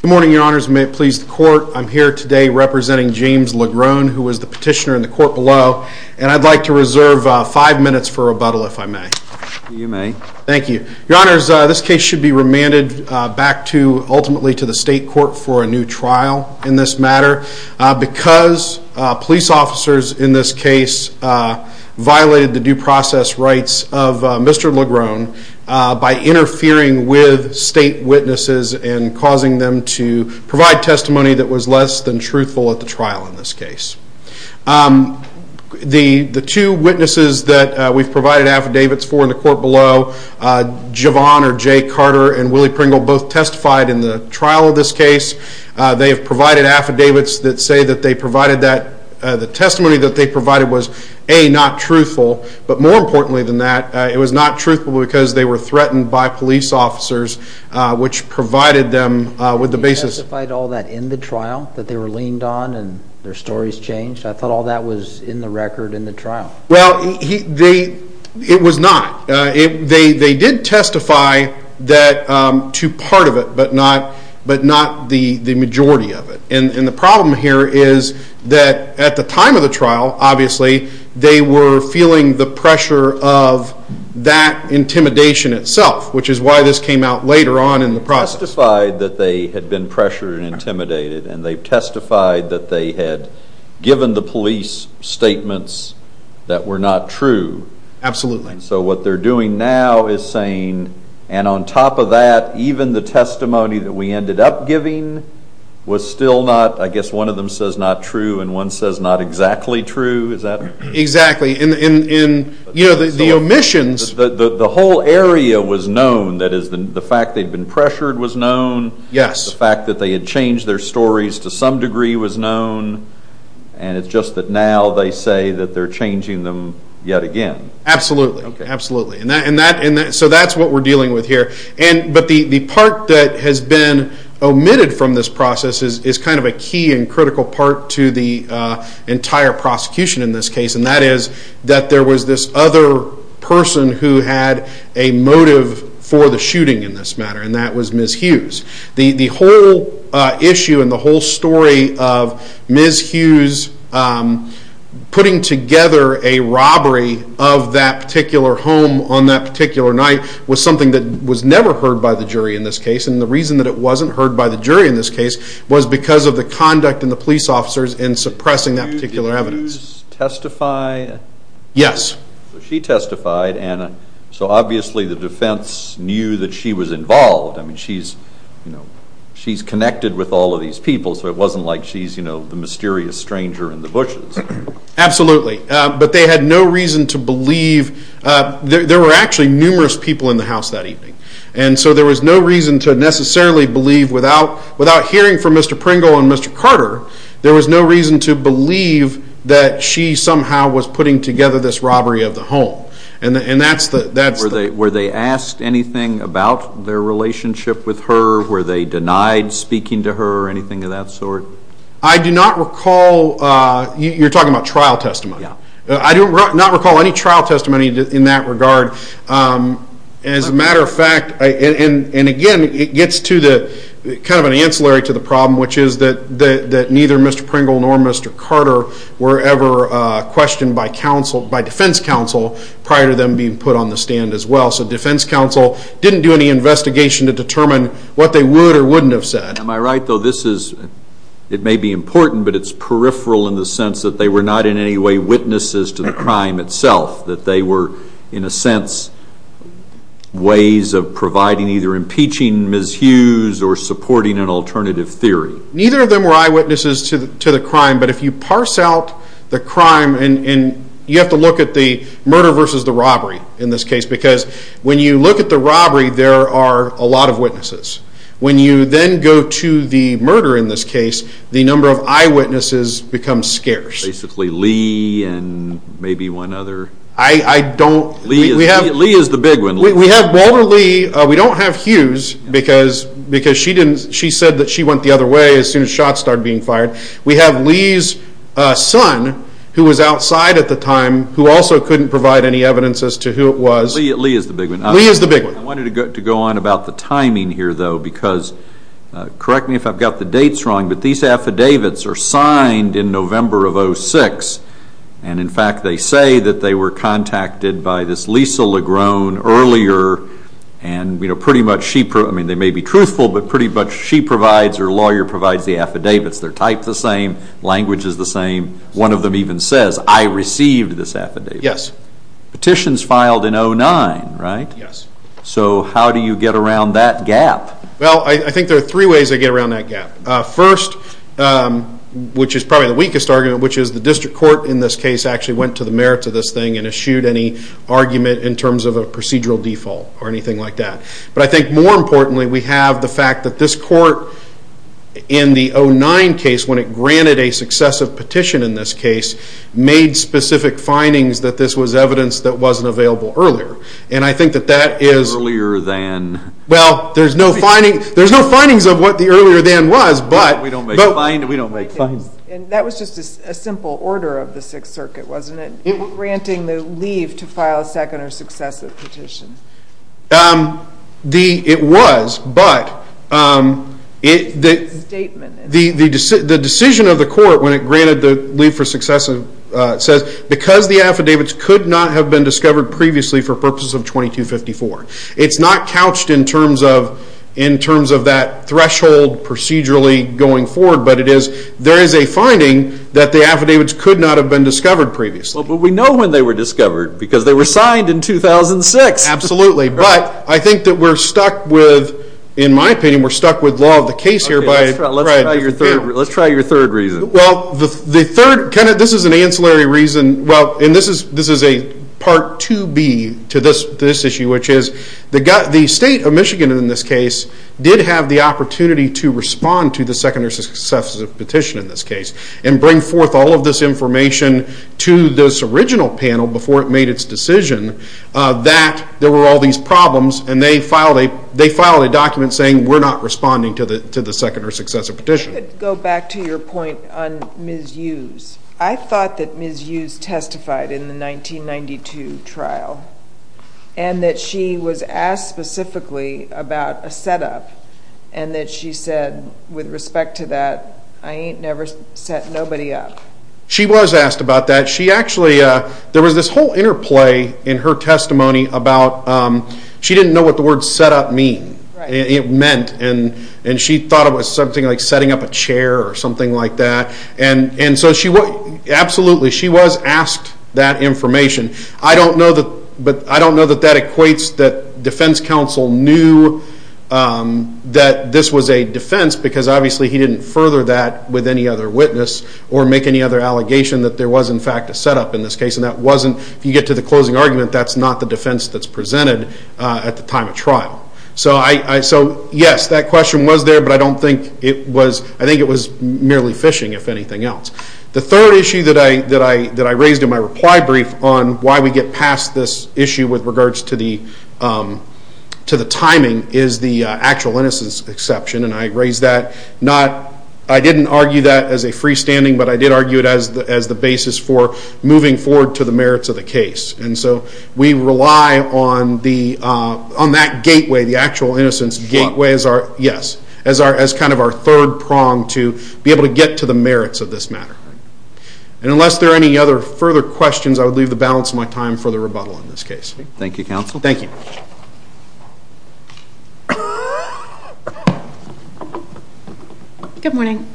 Good morning, your honors, and may it please the court, I'm here today representing James LeGrone, who was the petitioner in the court below, and I'd like to reserve five minutes for rebuttal if I may. You may. Thank you. Your honors, this case should be remanded back to, ultimately, to the state court for a new trial in this matter, because police officers in this case violated the due process rights of Mr. LeGrone by interfering with state witnesses and causing them to provide testimony that was less than truthful at the trial in this case. The two witnesses that we've provided affidavits for in the court below, Javon or Jay Carter and Willie Pringle, both testified in the trial of this case. They have provided affidavits that say that the testimony that they provided was, A, not truthful, but more importantly than that, it was not truthful because they were threatened by police officers, which provided them with the basis... You testified all that in the trial that they were leaned on and their stories changed? I thought all that was in the record in the trial. Well, it was not. They did testify to part of it, but not the majority of it. And the problem here is that at the time of the trial, obviously, they were feeling the pressure of that intimidation itself, which is why this came out later on in the process. They testified that they had been pressured and intimidated, and they testified that they had given the police statements that were not true. Absolutely. So what they're doing now is saying, and on top of that, even the testimony that we ended up giving was still not, I guess one of them says not true and one says not exactly true, is that right? Exactly. The omissions... The whole area was known, that is, the fact they'd been pressured was known. Yes. The fact that they had changed their stories to some degree was known. And it's just that now they say that they're changing them yet again. Absolutely. So that's what we're dealing with here. But the part that has been omitted from this process is kind of a key and critical part to the entire prosecution in this case, and that is that there was this other person who had a motive for the shooting in this matter, and that was Ms. Hughes. The whole issue and the whole story of Ms. Hughes putting together a robbery of that particular home on that particular night was something that was never heard by the jury in this case, and the reason that it wasn't heard by the jury in this case was because of the conduct of the police officers in suppressing that particular evidence. Did Hughes testify? Yes. She testified, and so obviously the defense knew that she was involved. I mean, she's connected with all of these people, so it wasn't like she's the mysterious stranger in the bushes. Absolutely. But they had no reason to believe... There were actually numerous people in the house that evening, and so there was no reason to necessarily believe without hearing from Mr. Pringle and Mr. Carter, there was no reason to believe that she somehow was putting together this robbery of the home, and that's the... Were they asked anything about their relationship with her? Were they denied speaking to her or anything of that sort? I do not recall... You're talking about trial testimony? Yeah. I do not recall any trial testimony in that regard. As a matter of fact, and again, it gets to kind of an ancillary to the problem, which is that neither Mr. Pringle nor Mr. Carter were ever questioned by defense counsel prior to them being put on the stand as well, so defense counsel didn't do any investigation to determine what they would or wouldn't have said. Am I right, though, this is... It may be important, but it's peripheral in the sense that they were not in any way witnesses to the crime itself, that they were, in a sense, ways of providing either impeaching Ms. Hughes or supporting an alternative theory. Neither of them were eyewitnesses to the crime, but if you parse out the crime, and you have to look at the murder versus the robbery in this case, because when you look at the robbery, there are a lot of witnesses. When you then go to the murder in this case, the number of eyewitnesses becomes scarce. Basically Lee and maybe one other... I don't... Lee is the big one. We have Walter Lee. We don't have Hughes because she said that she went the other way as soon as shots started being fired. We have Lee's son, who was outside at the time, who also couldn't provide any evidence as to who it was. Lee is the big one. Lee is the big one. I wanted to go on about the timing here, though, because, correct me if I've got the dates wrong, but these affidavits are signed in November of 2006, and, in fact, they say that they were contacted by this Lisa Legrone earlier, and pretty much she... I mean, they may be truthful, but pretty much she provides or a lawyer provides the affidavits. They're typed the same. Language is the same. One of them even says, I received this affidavit. Yes. Petitions filed in 2009, right? Yes. So how do you get around that gap? Well, I think there are three ways to get around that gap. First, which is probably the weakest argument, which is the district court, in this case, actually went to the merits of this thing and eschewed any argument in terms of a procedural default or anything like that. But I think, more importantly, we have the fact that this court, in the 2009 case, when it granted a successive petition in this case, made specific findings that this was evidence that wasn't available earlier. And I think that that is... Earlier than... Well, there's no findings of what the earlier than was, but... We don't make findings. That was just a simple order of the Sixth Circuit, wasn't it, granting the leave to file a second or successive petition? It was, but... It's a statement. The decision of the court when it granted the leave for successive says, because the affidavits could not have been discovered previously for purposes of 2254. It's not couched in terms of that threshold procedurally going forward, but there is a finding that the affidavits could not have been discovered previously. But we know when they were discovered, because they were signed in 2006. Absolutely, but I think that we're stuck with, in my opinion, we're stuck with law of the case here. Let's try your third reason. Well, the third... This is an ancillary reason. This is a Part 2B to this issue, which is the state of Michigan in this case did have the opportunity to respond to the second or successive petition in this case and bring forth all of this information to this original panel before it made its decision that there were all these problems, and they filed a document saying we're not responding to the second or successive petition. Go back to your point on Ms. Hughes. I thought that Ms. Hughes testified in the 1992 trial and that she was asked specifically about a setup and that she said, with respect to that, I ain't never set nobody up. She was asked about that. She actually, there was this whole interplay in her testimony about, she didn't know what the word setup meant, and she thought it was something like setting up a chair or something like that. Absolutely, she was asked that information. I don't know that that equates that defense counsel knew that this was a defense because obviously he didn't further that with any other witness or make any other allegation that there was, in fact, a setup in this case, and that wasn't, if you get to the closing argument, that's not the defense that's presented at the time of trial. Yes, that question was there, but I don't think it was, I think it was merely phishing, if anything else. The third issue that I raised in my reply brief on why we get past this issue with regards to the timing is the actual innocence exception, and I raised that not, I didn't argue that as a freestanding, but I did argue it as the basis for moving forward to the merits of the case. And so we rely on that gateway, the actual innocence gateway as our, yes, as kind of our third prong to be able to get to the merits of this matter. And unless there are any other further questions, I would leave the balance of my time for the rebuttal in this case. Thank you, counsel. Thank you. Good morning.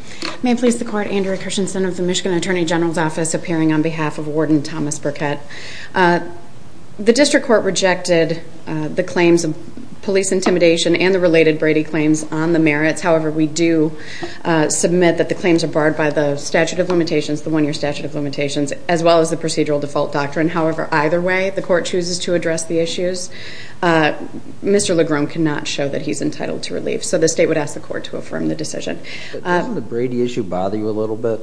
Andrea Christensen of the Michigan Attorney General's Office appearing on behalf of Warden Thomas Burkett. The district court rejected the claims of police intimidation and the related Brady claims on the merits. However, we do submit that the claims are barred by the statute of limitations, the one-year statute of limitations, as well as the procedural default doctrine. However, either way, the court chooses to address the issues. Mr. Legrome cannot show that he's entitled to relief, so the state would ask the court to affirm the decision. Doesn't the Brady issue bother you a little bit?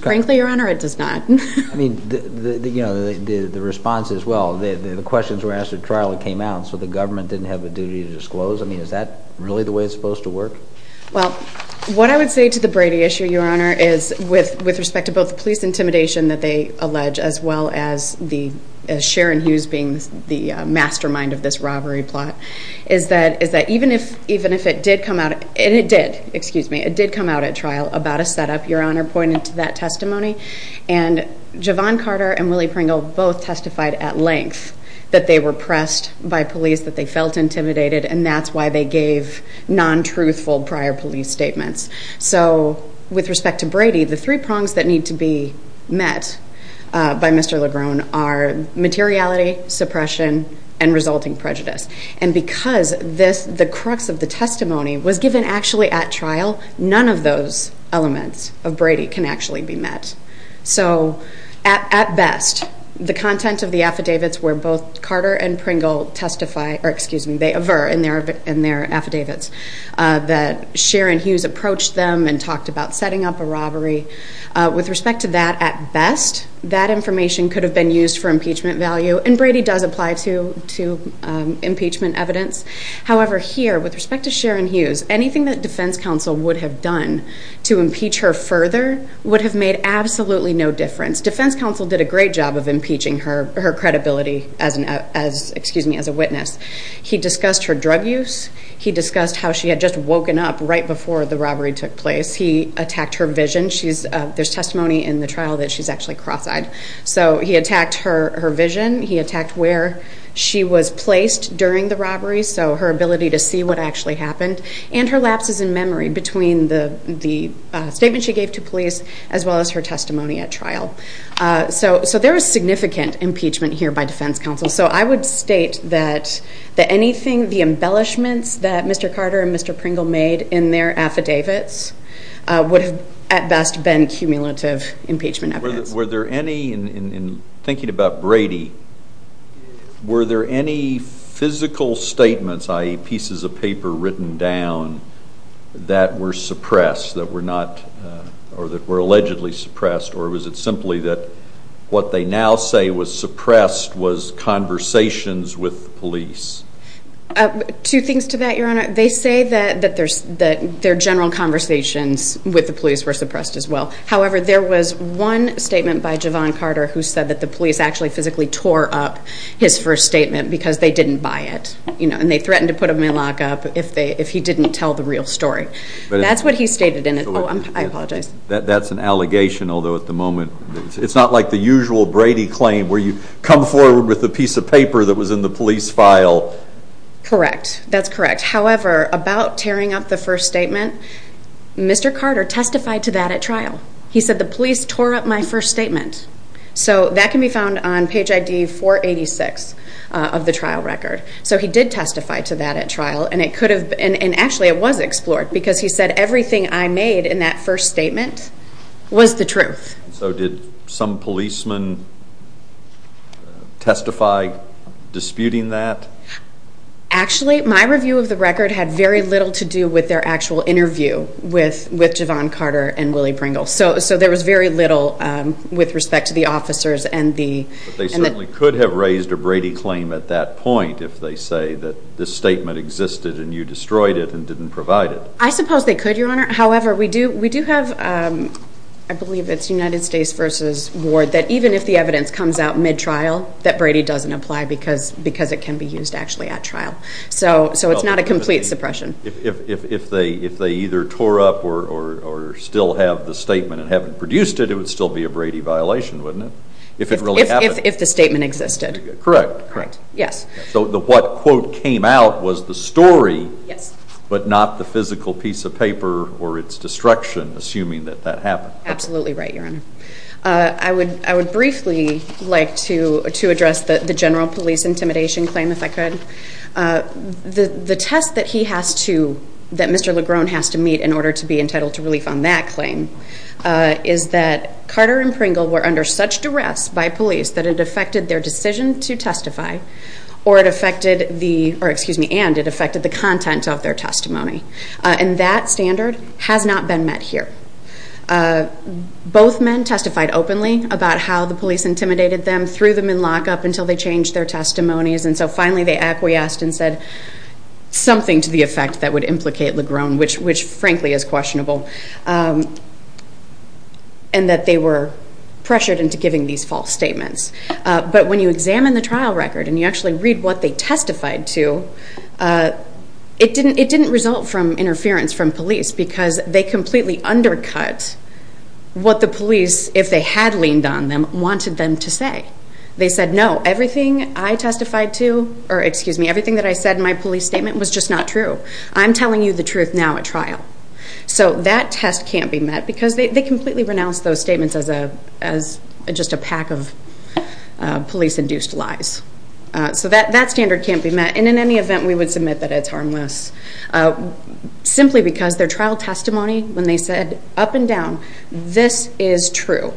Frankly, Your Honor, it does not. I mean, the response is, well, the questions were asked at trial, it came out, so the government didn't have a duty to disclose. I mean, is that really the way it's supposed to work? Well, what I would say to the Brady issue, Your Honor, is with respect to both the police intimidation that they allege, as well as Sharon Hughes being the mastermind of this robbery plot, is that even if it did come out, and it did, excuse me, it did come out at trial about a setup, Your Honor pointed to that testimony, and Javon Carter and Willie Pringle both testified at length that they were pressed by police, that they felt intimidated, and that's why they gave non-truthful prior police statements. So with respect to Brady, the three prongs that need to be met by Mr. Legrome are materiality, suppression, and resulting prejudice. None of those elements of Brady can actually be met. So at best, the content of the affidavits where both Carter and Pringle testify, or excuse me, they aver in their affidavits, that Sharon Hughes approached them and talked about setting up a robbery, with respect to that, at best, that information could have been used for impeachment value, and Brady does apply to impeachment evidence. However, here, with respect to Sharon Hughes, anything that defense counsel would have done to impeach her further would have made absolutely no difference. Defense counsel did a great job of impeaching her credibility as a witness. He discussed her drug use. He discussed how she had just woken up right before the robbery took place. He attacked her vision. There's testimony in the trial that she's actually cross-eyed. So he attacked her vision. He attacked where she was placed during the robbery, so her ability to see what actually happened, and her lapses in memory between the statement she gave to police as well as her testimony at trial. So there was significant impeachment here by defense counsel. So I would state that anything, the embellishments that Mr. Carter and Mr. Pringle made in their affidavits would have, at best, been cumulative impeachment evidence. Were there any, in thinking about Brady, were there any physical statements, i.e. pieces of paper written down, that were suppressed, that were not, or that were allegedly suppressed, or was it simply that what they now say was suppressed was conversations with police? Two things to that, Your Honor. They say that their general conversations with the police were suppressed as well. However, there was one statement by Javon Carter who said that the police actually physically tore up his first statement because they didn't buy it, and they threatened to put him in lockup if he didn't tell the real story. That's what he stated in it. Oh, I apologize. That's an allegation, although at the moment it's not like the usual Brady claim where you come forward with a piece of paper that was in the police file. Correct. That's correct. However, about tearing up the first statement, Mr. Carter testified to that at trial. He said the police tore up my first statement. So that can be found on page ID 486 of the trial record. So he did testify to that at trial, and it could have been, and actually it was explored because he said everything I made in that first statement was the truth. So did some policeman testify disputing that? Actually, my review of the record had very little to do with their actual interview with Javon Carter and Willie Pringle. So there was very little with respect to the officers. But they certainly could have raised a Brady claim at that point if they say that this statement existed and you destroyed it and didn't provide it. I suppose they could, Your Honor. However, we do have, I believe it's United States v. Ward, that even if the evidence comes out mid-trial that Brady doesn't apply because it can be used actually at trial. So it's not a complete suppression. If they either tore up or still have the statement and haven't produced it, it would still be a Brady violation, wouldn't it, if it really happened? If the statement existed. Correct. Yes. So what quote came out was the story but not the physical piece of paper or its destruction, assuming that that happened. Absolutely right, Your Honor. I would briefly like to address the general police intimidation claim, if I could. The test that he has to, that Mr. Legrone has to meet in order to be entitled to relief on that claim is that Carter and Pringle were under such duress by police that it affected their decision to testify and it affected the content of their testimony. And that standard has not been met here. Both men testified openly about how the police intimidated them, threw them in lockup until they changed their testimonies, and so finally they acquiesced and said something to the effect that would implicate Legrone, which frankly is questionable, and that they were pressured into giving these false statements. But when you examine the trial record and you actually read what they testified to, it didn't result from interference from police because they completely undercut what the police, if they had leaned on them, wanted them to say. They said, no, everything I testified to, or excuse me, everything that I said in my police statement was just not true. I'm telling you the truth now at trial. So that test can't be met because they completely renounced those statements as just a pack of police-induced lies. So that standard can't be met. And in any event, we would submit that it's harmless simply because their trial testimony, when they said up and down, this is true.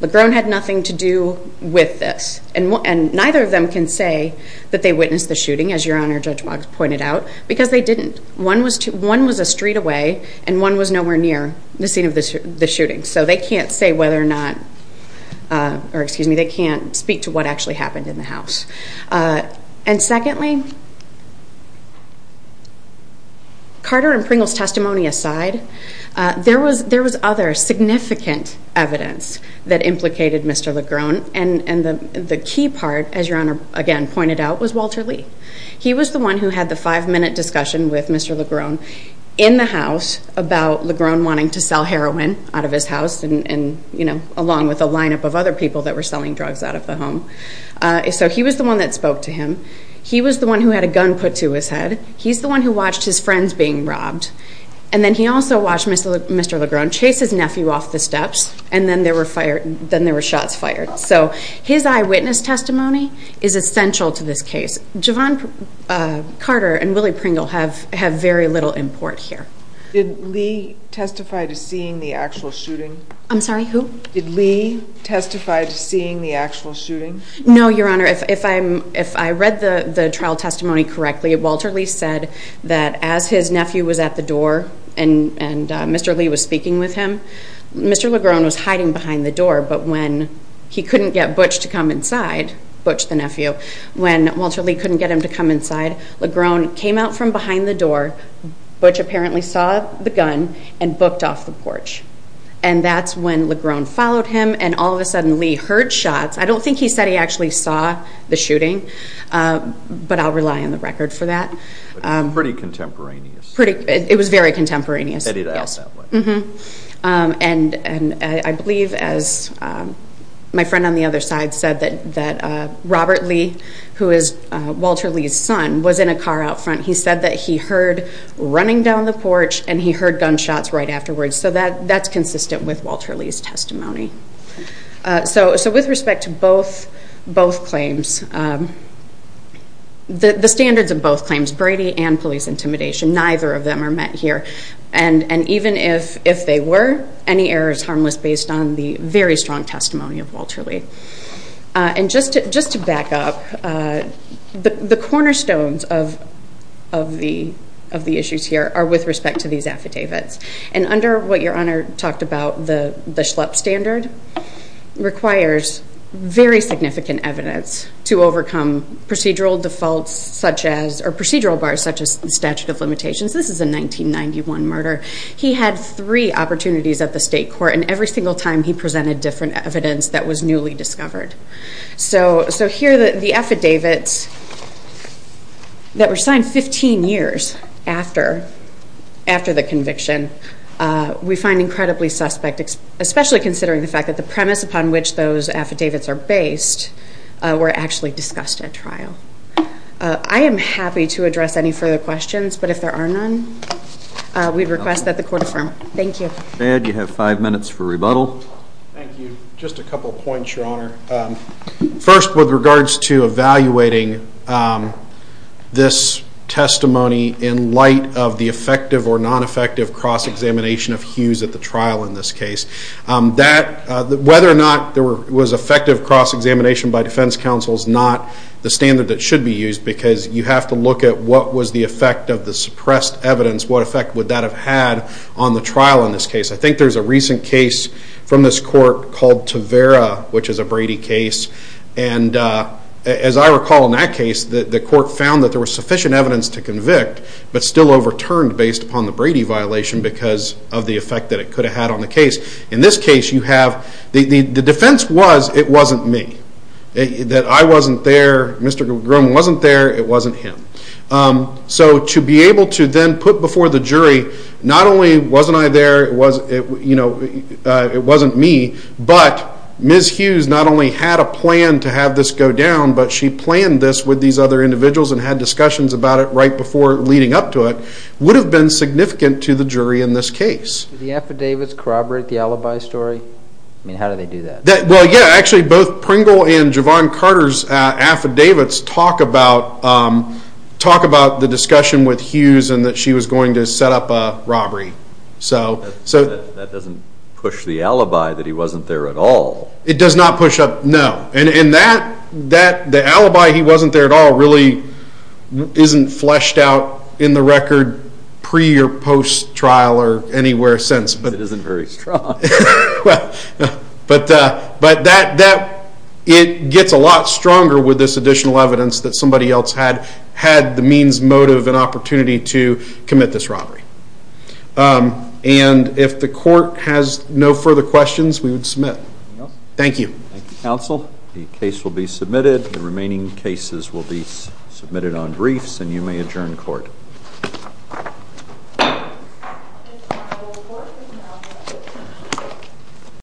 Legrone had nothing to do with this. And neither of them can say that they witnessed the shooting, as Your Honor Judge Boggs pointed out, because they didn't. One was a street away and one was nowhere near the scene of the shooting. So they can't say whether or not, or excuse me, they can't speak to what actually happened in the house. And secondly, Carter and Pringle's testimony aside, there was other significant evidence that implicated Mr. Legrone. And the key part, as Your Honor again pointed out, was Walter Lee. He was the one who had the five-minute discussion with Mr. Legrone in the house about Legrone wanting to sell heroin out of his house, along with a lineup of other people that were selling drugs out of the home. So he was the one that spoke to him. He was the one who had a gun put to his head. He's the one who watched his friends being robbed. And then he also watched Mr. Legrone chase his nephew off the steps, and then there were shots fired. So his eyewitness testimony is essential to this case. Javon Carter and Willie Pringle have very little import here. Did Lee testify to seeing the actual shooting? I'm sorry, who? Did Lee testify to seeing the actual shooting? No, Your Honor. If I read the trial testimony correctly, Walter Lee said that as his nephew was at the door and Mr. Lee was speaking with him, Mr. Legrone was hiding behind the door, but when he couldn't get Butch to come inside, Butch the nephew, when Walter Lee couldn't get him to come inside, Legrone came out from behind the door. Butch apparently saw the gun and booked off the porch. And that's when Legrone followed him, and all of a sudden Lee heard shots. I don't think he said he actually saw the shooting, but I'll rely on the record for that. Pretty contemporaneous. It was very contemporaneous. Edited out that way. And I believe, as my friend on the other side said, that Robert Lee, who is Walter Lee's son, was in a car out front. He said that he heard running down the porch and he heard gunshots right afterwards. So that's consistent with Walter Lee's testimony. So with respect to both claims, the standards of both claims, Brady and police intimidation, neither of them are met here. And even if they were, any error is harmless based on the very strong testimony of Walter Lee. And just to back up, the cornerstones of the issues here are with respect to these affidavits. And under what your Honor talked about, the Schlepp standard, requires very significant evidence to overcome procedural defaults such as, or procedural bars such as the statute of limitations. This is a 1991 murder. He had three opportunities at the state court, and every single time he presented different evidence that was newly discovered. So here, the affidavits that were signed 15 years after the conviction, we find incredibly suspect, especially considering the fact that the premise upon which those affidavits are based were actually discussed at trial. I am happy to address any further questions, but if there are none, we request that the court affirm. Thank you. Mr. Baird, you have five minutes for rebuttal. Thank you. Just a couple of points, your Honor. First, with regards to evaluating this testimony in light of the effective or non-effective cross-examination of Hughes at the trial in this case. Whether or not there was effective cross-examination by defense counsel is not the standard that should be used, because you have to look at what was the effect of the suppressed evidence, what effect would that have had on the trial in this case. I think there's a recent case from this court called Tavera, which is a Brady case, and as I recall in that case, the court found that there was sufficient evidence to convict, but still overturned based upon the Brady violation because of the effect that it could have had on the case. In this case, the defense was it wasn't me, that I wasn't there, Mr. Grom wasn't there, it wasn't him. So to be able to then put before the jury, not only wasn't I there, it wasn't me, but Ms. Hughes not only had a plan to have this go down, but she planned this with these other individuals and had discussions about it right before leading up to it, would have been significant to the jury in this case. Did the affidavits corroborate the alibi story? I mean, how did they do that? Well, yeah, actually both Pringle and Javon Carter's affidavits talk about the discussion with Hughes and that she was going to set up a robbery. That doesn't push the alibi that he wasn't there at all. It does not push up, no. And the alibi he wasn't there at all really isn't fleshed out in the record pre or post trial or anywhere since. It isn't very strong. But it gets a lot stronger with this additional evidence that somebody else had the means, motive, and opportunity to commit this robbery. And if the court has no further questions, we would submit. Thank you. Thank you, counsel. The case will be submitted. The remaining cases will be submitted on briefs, and you may adjourn court. Thank you.